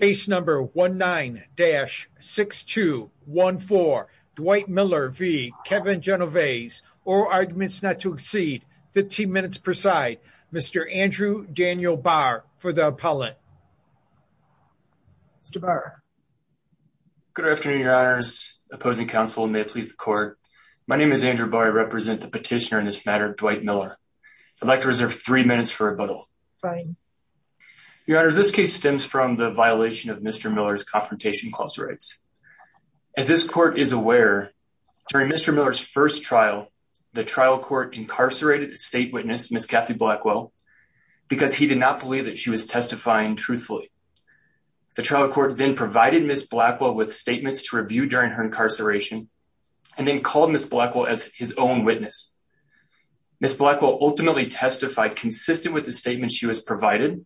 Case number 19-6214. Dwight Miller v. Kevin Genovese. All arguments not to exceed 15 minutes per side. Mr. Andrew Daniel Barr for the appellant. Mr. Barr. Good afternoon, your honors. Opposing counsel, may it please the court. My name is Andrew Barr. I represent the petitioner in this matter, Dwight Miller. I'd like to reserve three minutes for rebuttal. Fine. Your honors, this case stems from the violation of Mr. Miller's confrontation clause rights. As this court is aware, during Mr. Miller's first trial, the trial court incarcerated state witness Miss Kathy Blackwell because he did not believe that she was testifying truthfully. The trial court then provided Miss Blackwell with statements to review during her incarceration, and then called Miss Blackwell as his own witness. Miss Blackwell ultimately testified consistent with the statement she was provided.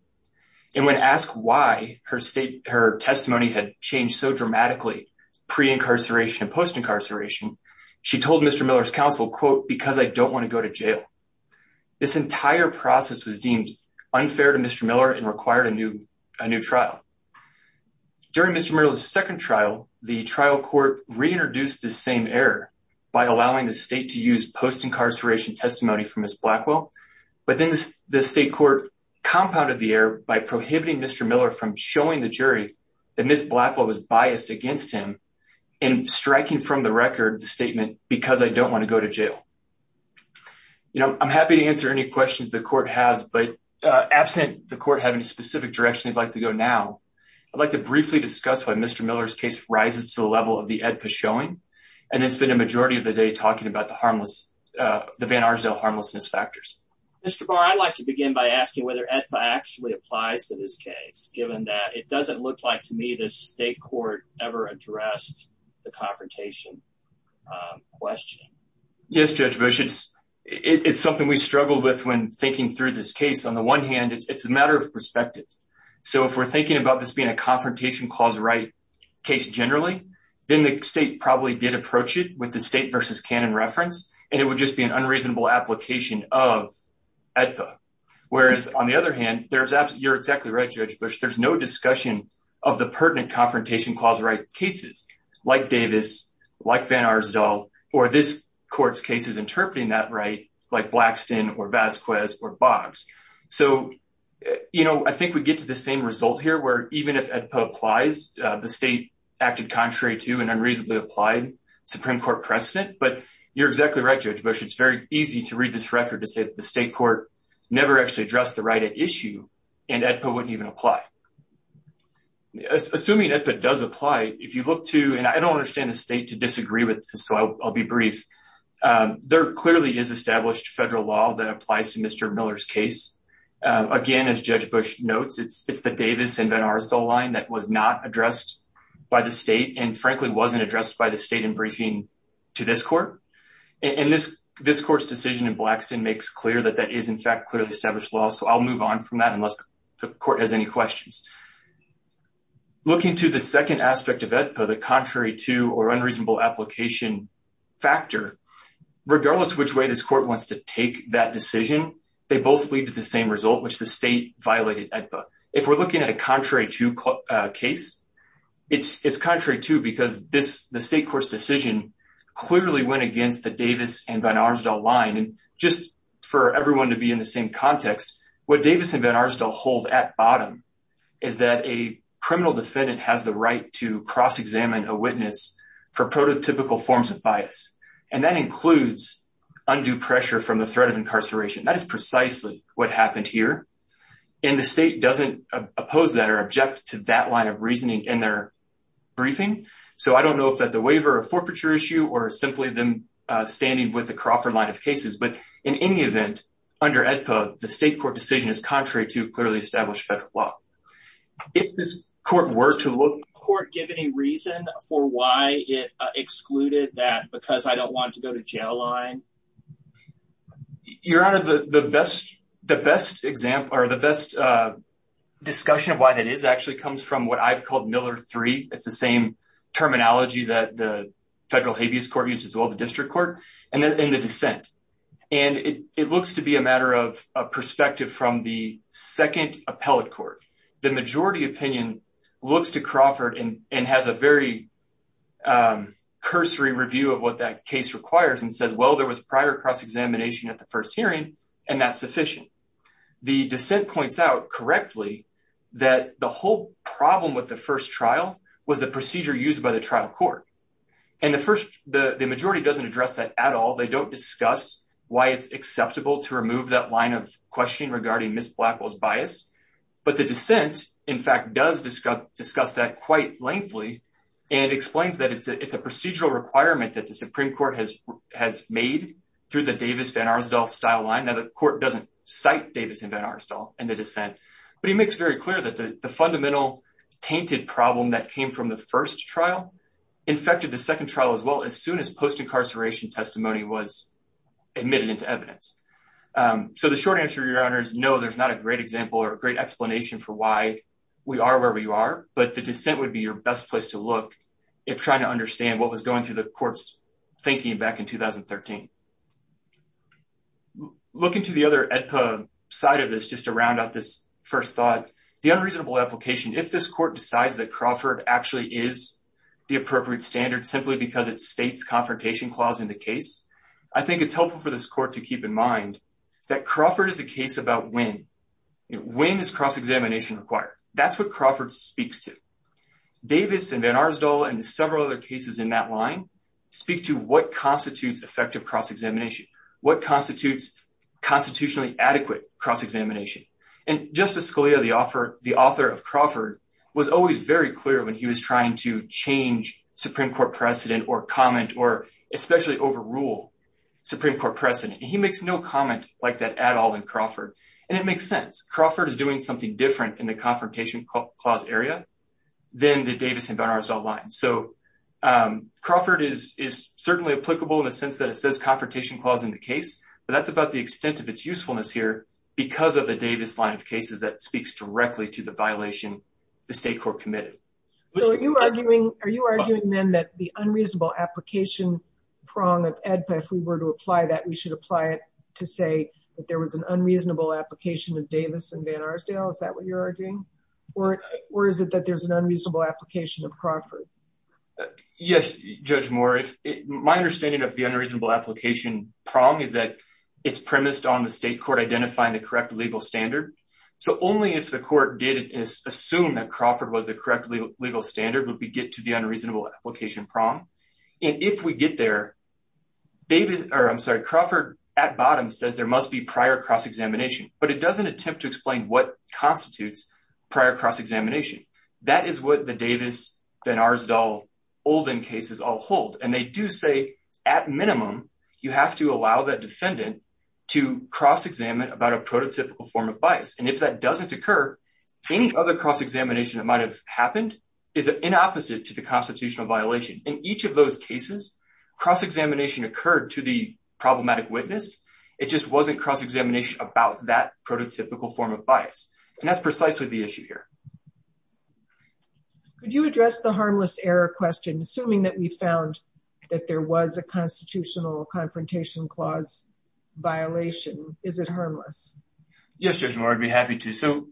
And when asked why her testimony had changed so dramatically pre-incarceration and post-incarceration, she told Mr. Miller's counsel, quote, because I don't want to go to jail. This entire process was deemed unfair to Mr. Miller and required a new trial. During Mr. Miller's second trial, the trial court reintroduced the same error by allowing the state to use post-incarceration testimony from Miss Blackwell. But then the state court compounded the error by prohibiting Mr. Miller from showing the jury that Miss Blackwell was biased against him and striking from the record the statement, because I don't want to go to jail. You know, I'm happy to answer any questions the court has, but absent the court having a specific direction they'd like to go now, I'd like to briefly discuss why Mr. Miller's case rises to the level of the AEDPA showing. And it's been a majority of the day talking about the harmless, the Van Arsdale harmlessness factors. Mr. Barr, I'd like to begin by asking whether AEDPA actually applies to this case, given that it doesn't look like to me the state court ever addressed the confrontation question. Yes, Judge Bush, it's something we struggled with when thinking through this case. On the one hand, it's a matter of perspective. So if we're thinking about this being a confrontation clause right case generally, then the state probably did approach it with the state versus canon reference, and it would just be an unreasonable application of AEDPA. Whereas, on the other hand, you're exactly right, Judge Bush, there's no discussion of the pertinent confrontation clause right cases, like Davis, like Van Arsdale, or this court's cases interpreting that right, like Blackston or Vasquez or Boggs. So, you know, I think we get to the same result here where even if AEDPA applies, the state acted contrary to an unreasonably applied Supreme Court precedent, but you're exactly right, Judge Bush, it's very easy to read this record to say that the state court never actually addressed the right at issue, and AEDPA wouldn't even apply. Assuming AEDPA does apply, if you look to, and I don't understand the state to disagree with this, so I'll be brief. There clearly is established federal law that applies to Mr. Miller's case. Again, as Judge Bush notes, it's the Davis and Van Arsdale line that was not addressed by the state and frankly wasn't addressed by the state in briefing to this court. And this, this court's decision in Blackston makes clear that that is in fact clearly established law so I'll move on from that unless the court has any questions. Looking to the second aspect of AEDPA, the contrary to or unreasonable application factor, regardless which way this court wants to take that decision, they both lead to the same result which the state violated AEDPA. If we're looking at a contrary to case, it's contrary to because this, the state court's decision clearly went against the Davis and Van Arsdale line and just for everyone to be in the same context, what Davis and Van Arsdale hold at bottom is that a criminal defendant has the right to cross examine a witness for prototypical forms of bias, and that includes undue pressure from the threat of incarceration. That is precisely what happened here. And the state doesn't oppose that or object to that line of reasoning in their briefing, so I don't know if that's a waiver or forfeiture issue or simply them standing with the Crawford line of cases but in any event, under AEDPA, the state court decision is contrary to clearly established federal law. If this court were to look- Does the court give any reason for why it excluded that because I don't want to go to jail line? Your Honor, the best discussion of why that is actually comes from what I've called Miller 3. It's the same terminology that the federal habeas court used as well, the district court, and the dissent. And it looks to be a matter of perspective from the second appellate court. The majority opinion looks to Crawford and has a very cursory review of what that case requires and says, well, there was prior cross examination at the first hearing, and that's sufficient. The dissent points out correctly that the whole problem with the first trial was the procedure used by the trial court. And the majority doesn't address that at all. They don't discuss why it's acceptable to remove that line of questioning regarding Ms. Blackwell's bias. But the dissent, in fact, does discuss that quite lengthily and explains that it's a procedural requirement that the Supreme Court has made through the Davis-Van Arsdal style line. Now, the court doesn't cite Davis and Van Arsdal in the dissent, but he makes very clear that the fundamental tainted problem that came from the first trial infected the second trial as well as soon as post-incarceration testimony was admitted into evidence. So the short answer, Your Honor, is no, there's not a great example or a great explanation for why we are where we are, but the dissent would be your best place to look if trying to understand what was going through the court's thinking back in 2013. Looking to the other EDPA side of this, just to round out this first thought, the unreasonable application, if this court decides that Crawford actually is the appropriate standard simply because it states confrontation clause in the case, I think it's helpful for this court to keep in mind that Crawford is a case about when. When is cross-examination required? That's what Crawford speaks to. Davis and Van Arsdal and several other cases in that line speak to what constitutes effective cross-examination, what constitutes constitutionally adequate cross-examination. And Justice Scalia, the author of Crawford, was always very clear when he was trying to change Supreme Court precedent or comment or especially overrule Supreme Court precedent. He makes no comment like that at all in Crawford, and it makes sense. Crawford is doing something different in the confrontation clause area than the Davis and Van Arsdal line. So Crawford is certainly applicable in the sense that it says confrontation clause in the case, but that's about the extent of its usefulness here because of the Davis line of cases that speaks directly to the violation the state court committed. Are you arguing then that the unreasonable application prong of AEDPA, if we were to apply that, we should apply it to say that there was an unreasonable application of Davis and Van Arsdal? Is that what you're arguing? Or is it that there's an unreasonable application of Crawford? Yes, Judge Moore. My understanding of the unreasonable application prong is that it's premised on the state court identifying the correct legal standard. So only if the court did assume that Crawford was the correct legal standard would we get to the unreasonable application prong. And if we get there, Crawford at bottom says there must be prior cross-examination, but it doesn't attempt to explain what constitutes prior cross-examination. That is what the Davis, Van Arsdal, Olden cases all hold. And they do say, at minimum, you have to allow the defendant to cross-examine about a prototypical form of bias. And if that doesn't occur, any other cross-examination that might have happened is an opposite to the constitutional violation. In each of those cases, cross-examination occurred to the problematic witness. It just wasn't cross-examination about that prototypical form of bias. And that's precisely the issue here. Could you address the harmless error question, assuming that we found that there was a constitutional confrontation clause violation? Is it harmless? Yes, Judge Moore, I'd be happy to. So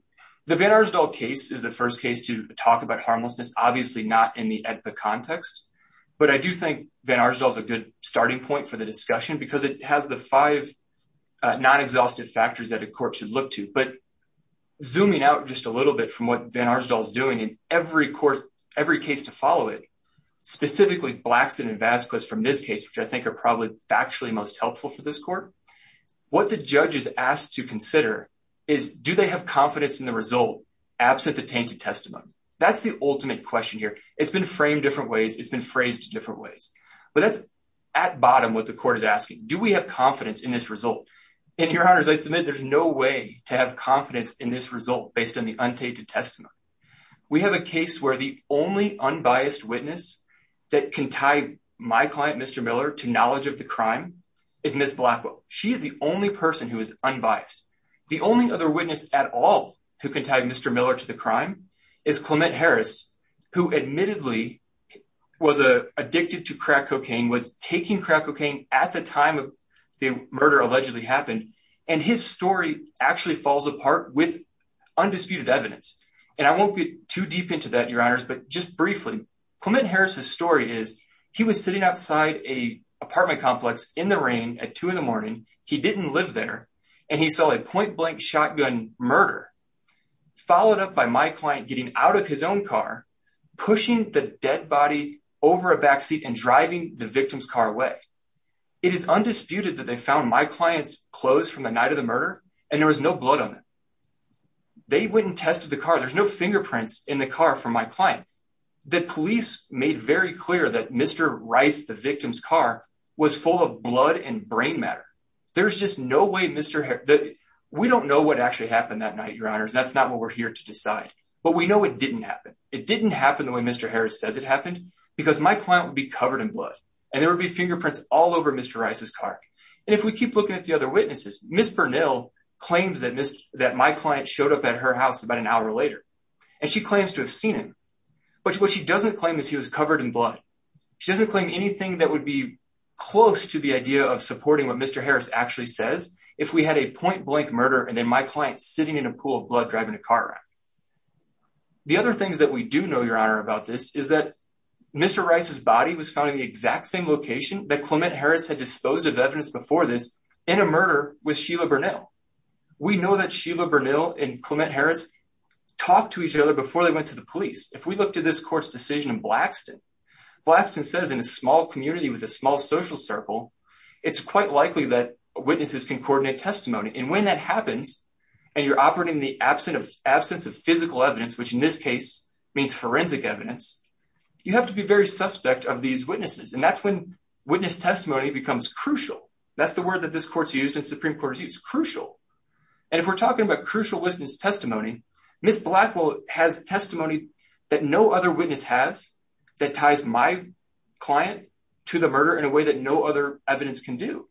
the Van Arsdal case is the first case to talk about harmlessness, obviously not in the AEDPA context. But I do think Van Arsdal is a good starting point for the discussion because it has the five non-exhaustive factors that a court should look to. But zooming out just a little bit from what Van Arsdal is doing in every case to follow it, specifically Blackson and Vasquez from this case, which I think are probably factually most helpful for this court. What the judge is asked to consider is, do they have confidence in the result absent the tainted testimony? That's the ultimate question here. It's been framed different ways. It's been phrased different ways. But that's at bottom what the court is asking. Do we have confidence in this result? And Your Honor, as I submit, there's no way to have confidence in this result based on the untainted testimony. We have a case where the only unbiased witness that can tie my client, Mr. Miller, to knowledge of the crime is Ms. Blackwell. She's the only person who is unbiased. The only other witness at all who can tie Mr. Miller to the crime is Clement Harris, who admittedly was addicted to crack cocaine, was taking crack cocaine at the time of the murder allegedly happened. And his story actually falls apart with undisputed evidence. And I won't get too deep into that, Your Honors. But just briefly, Clement Harris's story is he was sitting outside a apartment complex in the rain at two in the morning. He didn't live there. And he saw a point blank shotgun murder, followed up by my client getting out of his own car, pushing the dead body over a backseat and driving the victim's car away. It is undisputed that they found my client's clothes from the night of the murder, and there was no blood on them. They went and tested the car. There's no fingerprints in the car from my client. The police made very clear that Mr. Rice, the victim's car, was full of blood and brain matter. There's just no way Mr. Harris... We don't know what actually happened that night, Your Honors. That's not what we're here to decide. But we know it didn't happen. It didn't happen the way Mr. Harris says it happened because my client would be covered in blood. And there would be fingerprints all over Mr. Rice's car. And if we keep looking at the other witnesses, Ms. Bernal claims that my client showed up at her house about an hour later, and she claims to have seen him. But what she doesn't claim is he was covered in blood. She doesn't claim anything that would be close to the idea of supporting what Mr. Harris actually says if we had a point blank murder and then my client sitting in a pool of blood driving a car around. The other things that we do know, Your Honor, about this is that Mr. Rice's body was found in the exact same location that Clement Harris had disposed of evidence before this in a murder with Sheila Bernal. We know that Sheila Bernal and Clement Harris talked to each other before they went to the police. If we look to this court's decision in Blackston, Blackston says in a small community with a small social circle, it's quite likely that witnesses can coordinate testimony. And when that happens, and you're operating in the absence of physical evidence, which in this case means forensic evidence, you have to be very suspect of these witnesses. And that's when witness testimony becomes crucial. That's the word that this court's used and Supreme Court has used, crucial. And if we're talking about crucial witness testimony, Ms. Blackwell has testimony that no other witness has that ties my client to the murder in a way that no other evidence can do.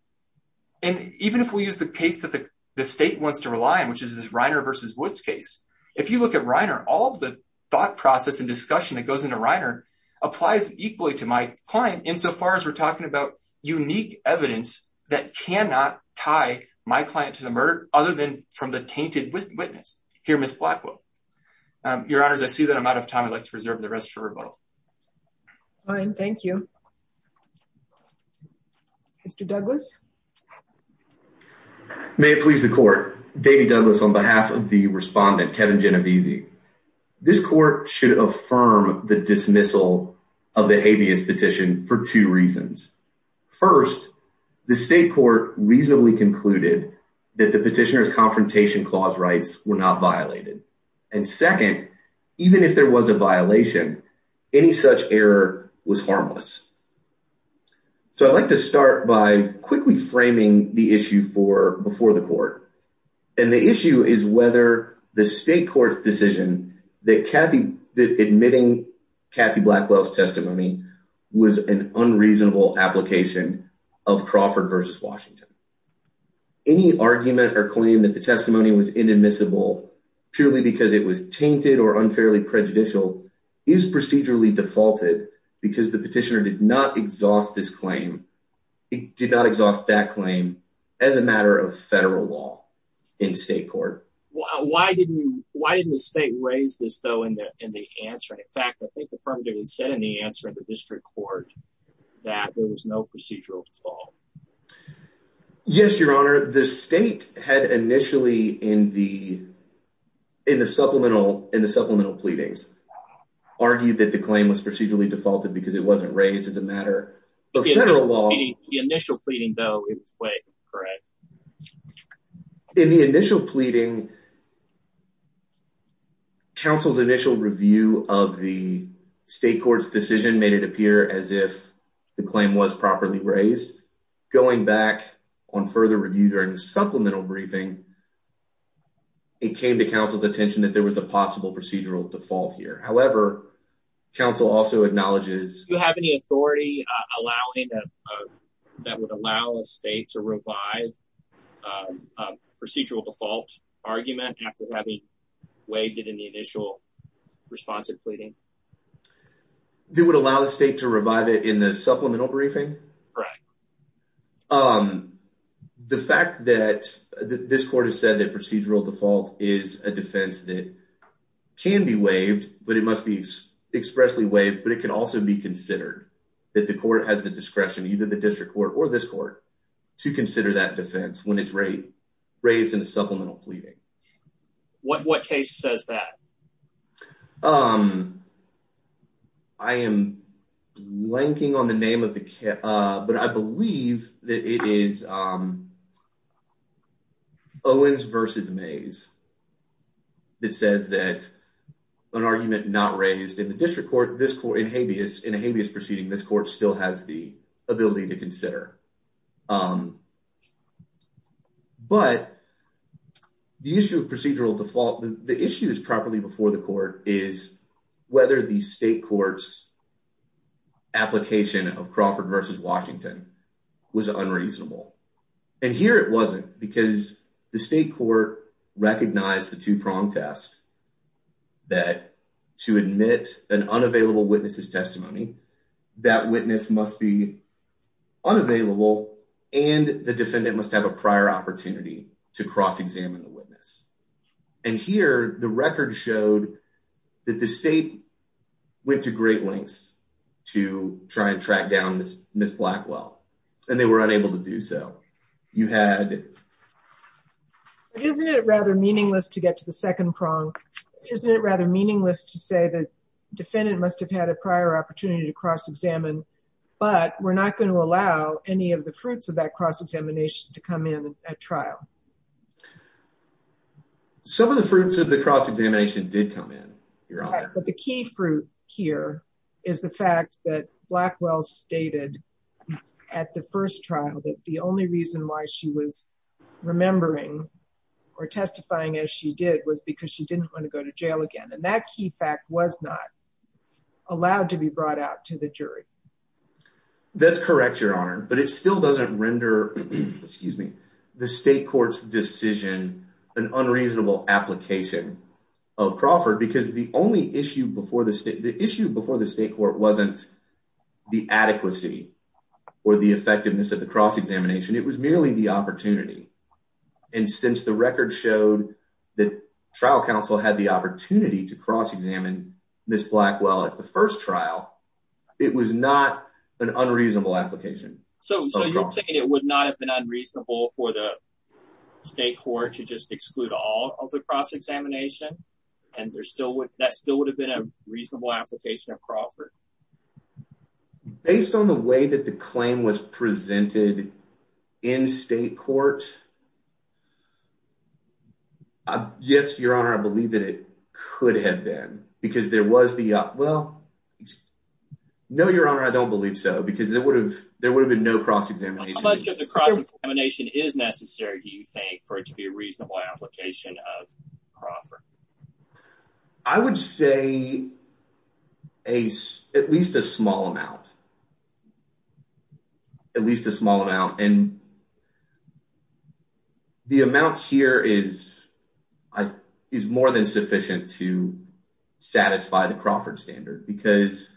And even if we use the case that the state wants to rely on, which is this Reiner v. Woods case, if you look at Reiner, all the thought process and discussion that goes into Reiner applies equally to my client insofar as we're talking about unique evidence that cannot tie my client to the murder, other than from the tainted witness. Here, Ms. Blackwell. Your Honors, I see that I'm out of time. I'd like to reserve the rest for rebuttal. Fine. Thank you. Mr. Douglas. May it please the court. Davey Douglas on behalf of the respondent, Kevin Genovese. This court should affirm the dismissal of the habeas petition for two reasons. First, the state court reasonably concluded that the petitioner's confrontation clause rights were not violated. And second, even if there was a violation, any such error was harmless. So I'd like to start by quickly framing the issue for before the court. And the issue is whether the state court's decision that Kathy that admitting Kathy Blackwell's testimony was an unreasonable application of Crawford v. Washington. Any argument or claim that the testimony was inadmissible purely because it was tainted or unfairly prejudicial is procedurally defaulted because the petitioner did not exhaust this claim. It did not exhaust that claim as a matter of federal law in state court. Why didn't you why didn't the state raise this, though, in the in the answer? And in fact, I think the firm did it said in the answer of the district court that there was no procedural default. Yes, your honor. The state had initially in the in the supplemental in the supplemental pleadings argued that the claim was procedurally defaulted because it wasn't raised as a matter of federal law. The initial pleading, though, is correct. In the initial pleading. Counsel's initial review of the state court's decision made it appear as if the claim was properly raised. Going back on further review during the supplemental briefing. It came to counsel's attention that there was a possible procedural default here. However, counsel also acknowledges. Do you have any authority allowing that would allow a state to revive procedural default argument after having waived it in the initial response of pleading? It would allow the state to revive it in the supplemental briefing. Right. The fact that this court has said that procedural default is a defense that can be waived, but it must be expressly waived. But it can also be considered that the court has the discretion, either the district court or this court to consider that defense when it's raised in a supplemental pleading. What case says that? I am blanking on the name of the case, but I believe that it is Owens versus Mays. It says that an argument not raised in the district court, this court in habeas in a habeas proceeding, this court still has the ability to consider. But the issue of procedural default, the issue that's properly before the court is whether the state courts application of Crawford versus Washington was unreasonable. And here it wasn't because the state court recognized the two prong test that to admit an unavailable witnesses testimony, that witness must be unavailable and the defendant must have a prior opportunity to cross examine the witness. And here the record showed that the state went to great lengths to try and track down Ms. Blackwell, and they were unable to do so. Isn't it rather meaningless to get to the second prong? Isn't it rather meaningless to say that defendant must have had a prior opportunity to cross examine, but we're not going to allow any of the fruits of that cross examination to come in at trial? Some of the fruits of the cross examination did come in. But the key fruit here is the fact that Blackwell stated at the first trial that the only reason why she was remembering or testifying as she did was because she didn't want to go to jail again. And that key fact was not allowed to be brought out to the jury. That's correct, Your Honor, but it still doesn't render the state court's decision an unreasonable application of Crawford because the issue before the state court wasn't the adequacy or the effectiveness of the cross examination, it was merely the opportunity. And since the record showed that trial counsel had the opportunity to cross examine Ms. Blackwell at the first trial, it was not an unreasonable application. So you're saying it would not have been unreasonable for the state court to just exclude all of the cross examination, and that still would have been a reasonable application of Crawford? Based on the way that the claim was presented in state court. Yes, Your Honor, I believe that it could have been because there was the well. No, Your Honor, I don't believe so, because there would have there would have been no cross examination. How much of the cross examination is necessary, do you think, for it to be a reasonable application of Crawford? I would say at least a small amount, at least a small amount, and the amount here is more than sufficient to satisfy the Crawford standard because,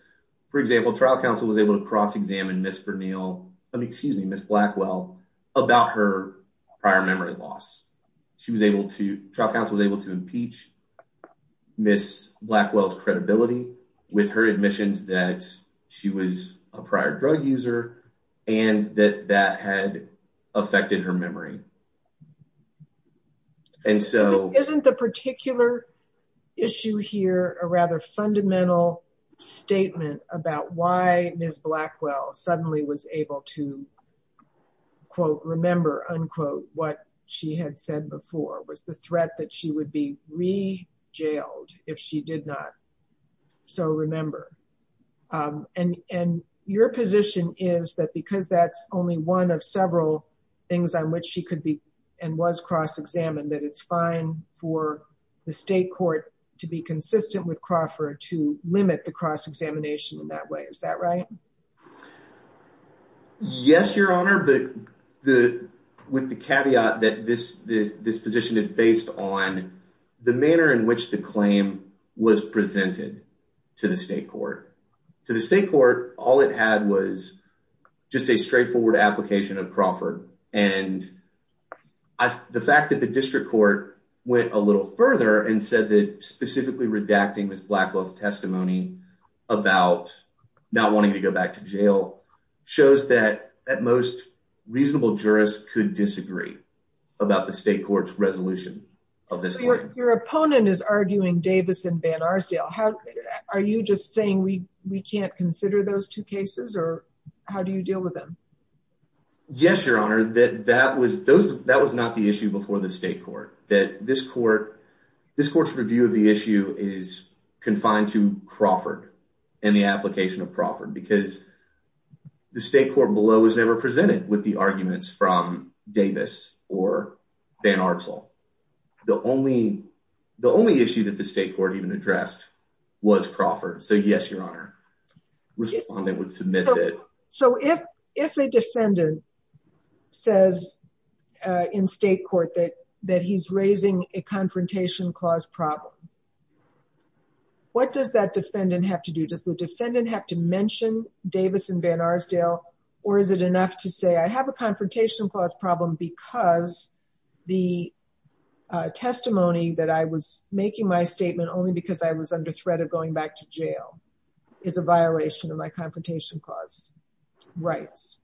for example, trial counsel was able to cross examine Ms. Blackwell about her prior memory loss. She was able to, trial counsel was able to impeach Ms. Blackwell's credibility with her admissions that she was a prior drug user, and that that had affected her memory. And so isn't the particular issue here a rather fundamental statement about why Ms. Blackwell suddenly was able to, quote, remember, unquote, what she had said before was the threat that she would be re-jailed if she did not so remember. And your position is that because that's only one of several things on which she could be and was cross examined, that it's fine for the state court to be consistent with Crawford to limit the cross examination in that way. Is that right? Yes, Your Honor, but with the caveat that this position is based on the manner in which the claim was presented to the state court. To the state court, all it had was just a straightforward application of Crawford. And the fact that the district court went a little further and said that specifically redacting Ms. Blackwell's testimony about not wanting to go back to jail shows that at most, reasonable jurists could disagree about the state court's resolution of this claim. Your opponent is arguing Davis and Van Arsdale. Are you just saying we can't consider those two cases or how do you deal with them? Yes, Your Honor, that was not the issue before the state court. This court's review of the issue is confined to Crawford and the application of Crawford because the state court below was never presented with the arguments from Davis or Van Arsdale. The only issue that the state court even addressed was Crawford, so yes, Your Honor. So if a defendant says in state court that he's raising a confrontation clause problem, what does that defendant have to do? Does the defendant have to mention Davis and Van Arsdale or is it enough to say I have a confrontation clause problem because the testimony that I was making my statement only because I was under threat of going back to jail? That is a violation of my confrontation clause rights.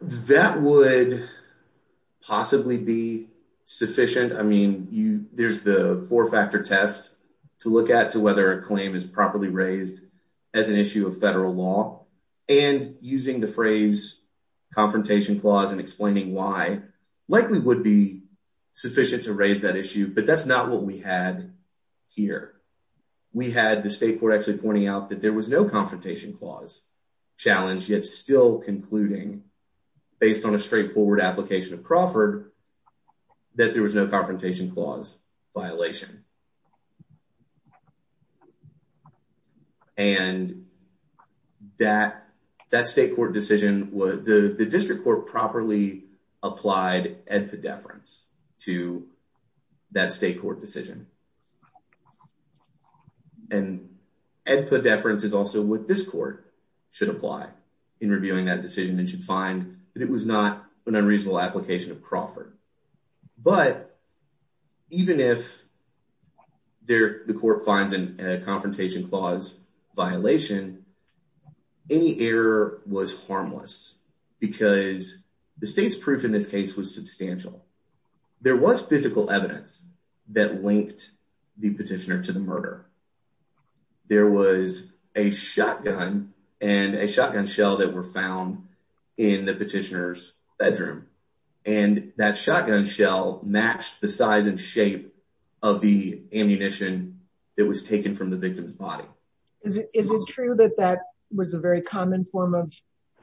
That would possibly be sufficient. I mean, there's the four factor test to look at to whether a claim is properly raised as an issue of federal law and using the phrase confrontation clause and explaining why likely would be sufficient to raise that issue, but that's not what we had here. We had the state court actually pointing out that there was no confrontation clause challenge yet still concluding based on a straightforward application of Crawford that there was no confrontation clause violation. And that state court decision, the district court properly applied EDPA deference to that state court decision. And EDPA deference is also what this court should apply in reviewing that decision and should find that it was not an unreasonable application of Crawford. But even if the court finds a confrontation clause violation, any error was harmless because the state's proof in this case was substantial. There was physical evidence that linked the petitioner to the murder. There was a shotgun and a shotgun shell that were found in the petitioner's bedroom and that shotgun shell matched the size and shape of the ammunition that was taken from the victim's body. Is it true that that was a very common form of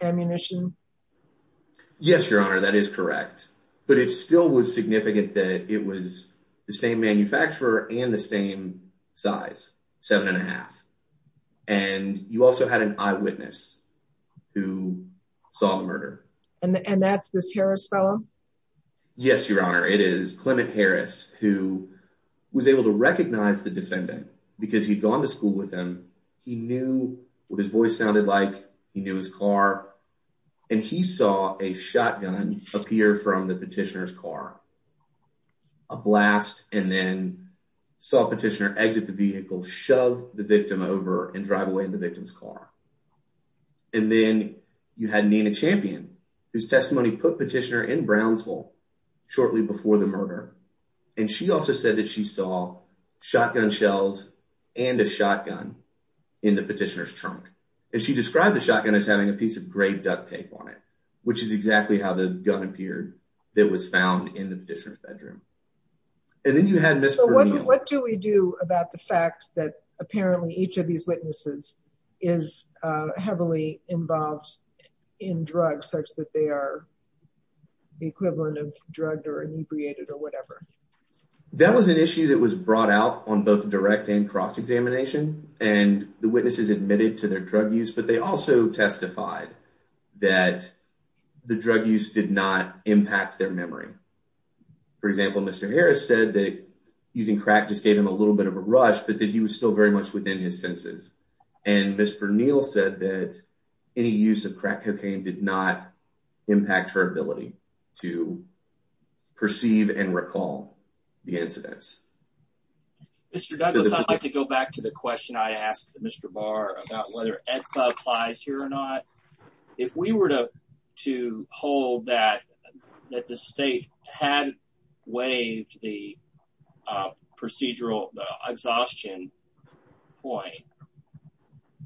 ammunition? Yes, Your Honor, that is correct, but it still was significant that it was the same manufacturer and the same size, seven and a half. And you also had an eyewitness who saw the murder. And that's this Harris fellow? Yes, Your Honor, it is Clement Harris, who was able to recognize the defendant because he'd gone to school with him. He knew what his voice sounded like, he knew his car, and he saw a shotgun appear from the petitioner's car. A blast and then saw petitioner exit the vehicle, shove the victim over and drive away in the victim's car. And then you had Nina Champion, whose testimony put petitioner in Brownsville shortly before the murder. And she also said that she saw shotgun shells and a shotgun in the petitioner's trunk. And she described the shotgun as having a piece of gray duct tape on it, which is exactly how the gun appeared that was found in the petitioner's bedroom. What do we do about the fact that apparently each of these witnesses is heavily involved in drugs such that they are the equivalent of drugged or inebriated or whatever? That was an issue that was brought out on both direct and cross-examination, and the witnesses admitted to their drug use, but they also testified that the drug use did not impact their memory. For example, Mr. Harris said that using crack just gave him a little bit of a rush, but that he was still very much within his senses. And Mr. Neal said that any use of crack cocaine did not impact her ability to perceive and recall the incidents. Mr. Douglas, I'd like to go back to the question I asked Mr. Barr about whether AEDPA applies here or not. If we were to hold that the state had waived the procedural exhaustion point,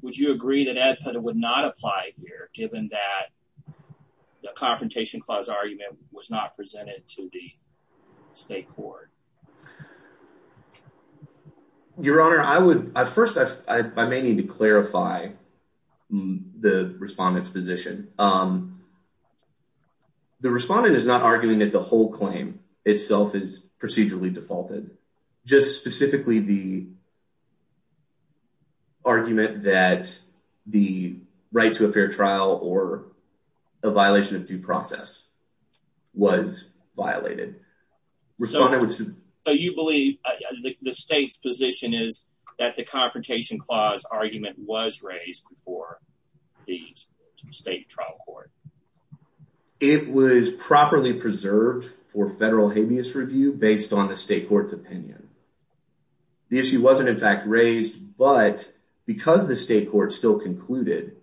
would you agree that AEDPA would not apply here, given that the Confrontation Clause argument was not presented to the state court? Your Honor, first I may need to clarify the respondent's position. The respondent is not arguing that the whole claim itself is procedurally defaulted. Just specifically the argument that the right to a fair trial or a violation of due process was violated. So you believe the state's position is that the Confrontation Clause argument was raised before the state trial court? It was properly preserved for federal habeas review based on the state court's opinion. The issue wasn't in fact raised, but because the state court still concluded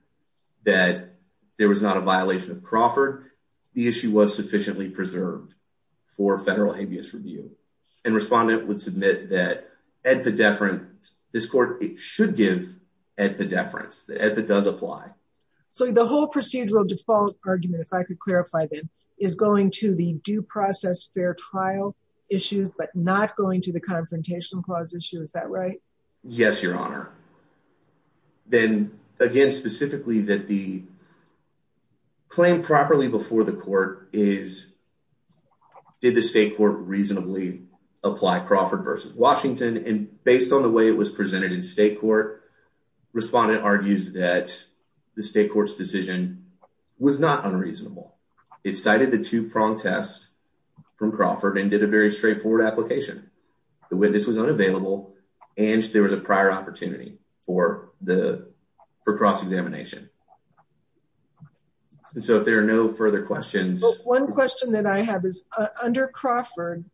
that there was not a violation of Crawford, the issue was sufficiently preserved for federal habeas review. And respondent would submit that AEDPA deference, this court should give AEDPA deference, that AEDPA does apply. So the whole procedural default argument, if I could clarify that, is going to the due process fair trial issues, but not going to the Confrontation Clause issue, is that right? Yes, Your Honor. Then again, specifically that the claim properly before the court is, did the state court reasonably apply Crawford v. Washington? And based on the way it was presented in state court, respondent argues that the state court's decision was not unreasonable. It cited the two-prong test from Crawford and did a very straightforward application. The witness was unavailable and there was a prior opportunity for cross-examination. So if there are no further questions... One question that I have is, under Crawford,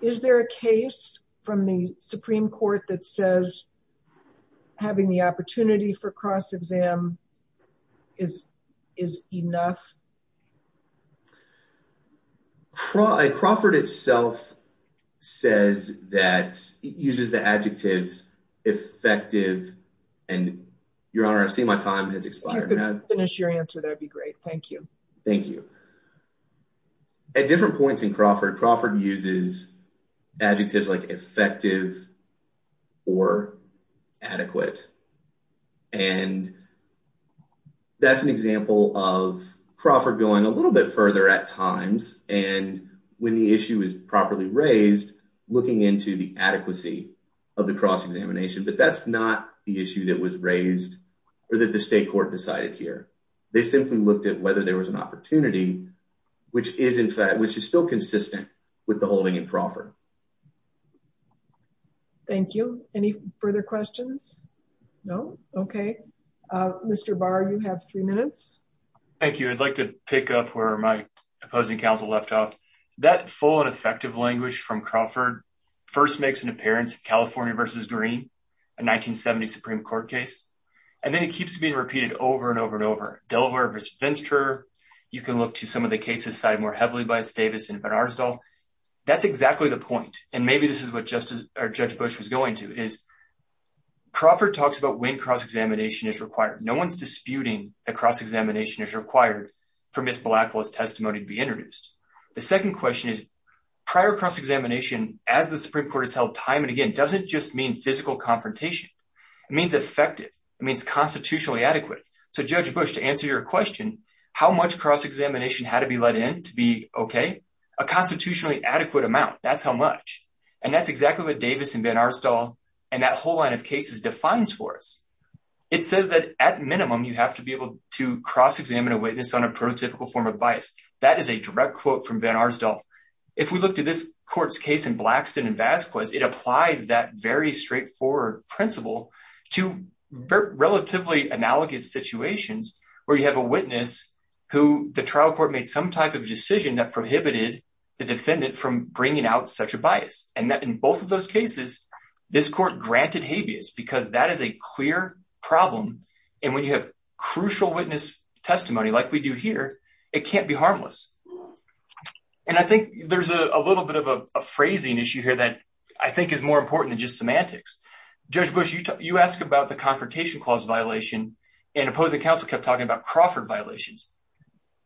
is there a case from the Supreme Court that says having the opportunity for cross-exam is enough? Crawford itself says that, it uses the adjectives effective and, Your Honor, I see my time has expired. If you could finish your answer, that would be great. Thank you. Thank you. At different points in Crawford, Crawford uses adjectives like effective or adequate. And that's an example of Crawford going a little bit further at times. And when the issue is properly raised, looking into the adequacy of the cross-examination. But that's not the issue that was raised or that the state court decided here. They simply looked at whether there was an opportunity, which is still consistent with the holding in Crawford. Thank you. Any further questions? No? Okay. Mr. Barr, you have three minutes. Thank you. I'd like to pick up where my opposing counsel left off. That full and effective language from Crawford first makes an appearance in California v. Green, a 1970 Supreme Court case. And then it keeps being repeated over and over and over. Delaware v. Finster. You can look to some of the cases cited more heavily by Davis and Bernarsdahl. That's exactly the point. And maybe this is what Judge Bush was going to. Crawford talks about when cross-examination is required. No one's disputing that cross-examination is required for Ms. Blackwell's testimony to be introduced. The second question is, prior cross-examination, as the Supreme Court has held time and again, doesn't just mean physical confrontation. It means effective. It means constitutionally adequate. So Judge Bush, to answer your question, how much cross-examination had to be let in to be okay? A constitutionally adequate amount. That's how much. And that's exactly what Davis and Bernarsdahl and that whole line of cases defines for us. It says that at minimum, you have to be able to cross-examine a witness on a prototypical form of bias. That is a direct quote from Bernarsdahl. If we look to this court's case in Blackston and Vasquez, it applies that very straightforward principle to relatively analogous situations where you have a witness who the trial court made some type of decision that prohibited the defendant from bringing out such a bias. And in both of those cases, this court granted habeas because that is a clear problem. And when you have crucial witness testimony like we do here, it can't be harmless. And I think there's a little bit of a phrasing issue here that I think is more important than just semantics. Judge Bush, you asked about the Confrontation Clause violation and opposing counsel kept talking about Crawford violations.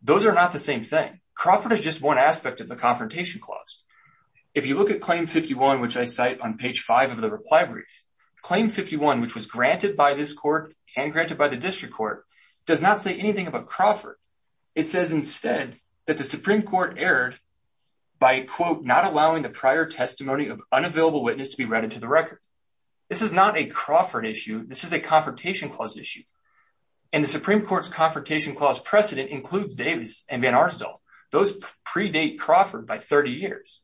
Those are not the same thing. Crawford is just one aspect of the Confrontation Clause. If you look at Claim 51, which I cite on page 5 of the reply brief, Claim 51, which was granted by this court and granted by the district court, does not say anything about Crawford. It says instead that the Supreme Court erred by, quote, not allowing the prior testimony of unavailable witness to be read into the record. This is not a Crawford issue. This is a Confrontation Clause issue. And the Supreme Court's Confrontation Clause precedent includes Davis and Van Arsdale. Those predate Crawford by 30 years.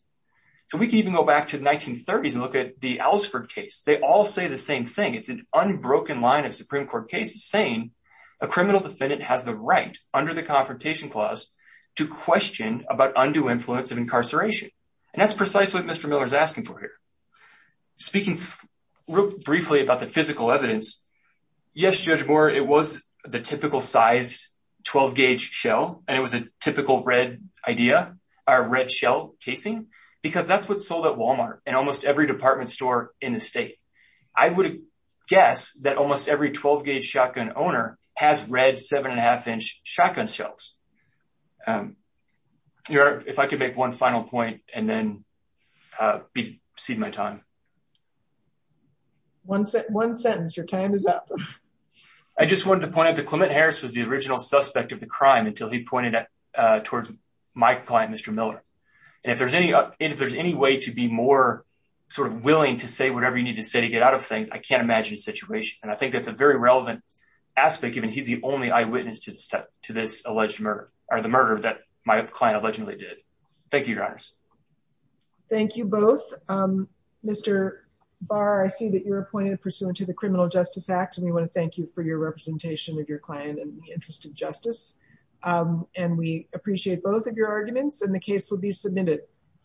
So we can even go back to the 1930s and look at the Ellsford case. They all say the same thing. It's an unbroken line of Supreme Court cases saying a criminal defendant has the right under the Confrontation Clause to question about undue influence of incarceration. And that's precisely what Mr. Miller is asking for here. Speaking real briefly about the physical evidence, yes, Judge Moore, it was the typical size 12-gauge shell, and it was a typical red idea, or red shell casing, because that's what's sold at Walmart and almost every department store in the state. I would guess that almost every 12-gauge shotgun owner has red 7.5-inch shotgun shells. Your Honor, if I could make one final point and then proceed with my time. One sentence. Your time is up. I just wanted to point out that Clement Harris was the original suspect of the crime until he pointed towards my client, Mr. Miller. And if there's any way to be more sort of willing to say whatever you need to say to get out of things, I can't imagine his situation. And I think that's a very relevant aspect, given he's the only eyewitness to this alleged murder, or the murder that my client allegedly did. Thank you, Your Honors. Thank you both. Mr. Barr, I see that you're appointed pursuant to the Criminal Justice Act, and we want to thank you for your representation of your client and the interest in justice. And we appreciate both of your arguments, and the case will be submitted.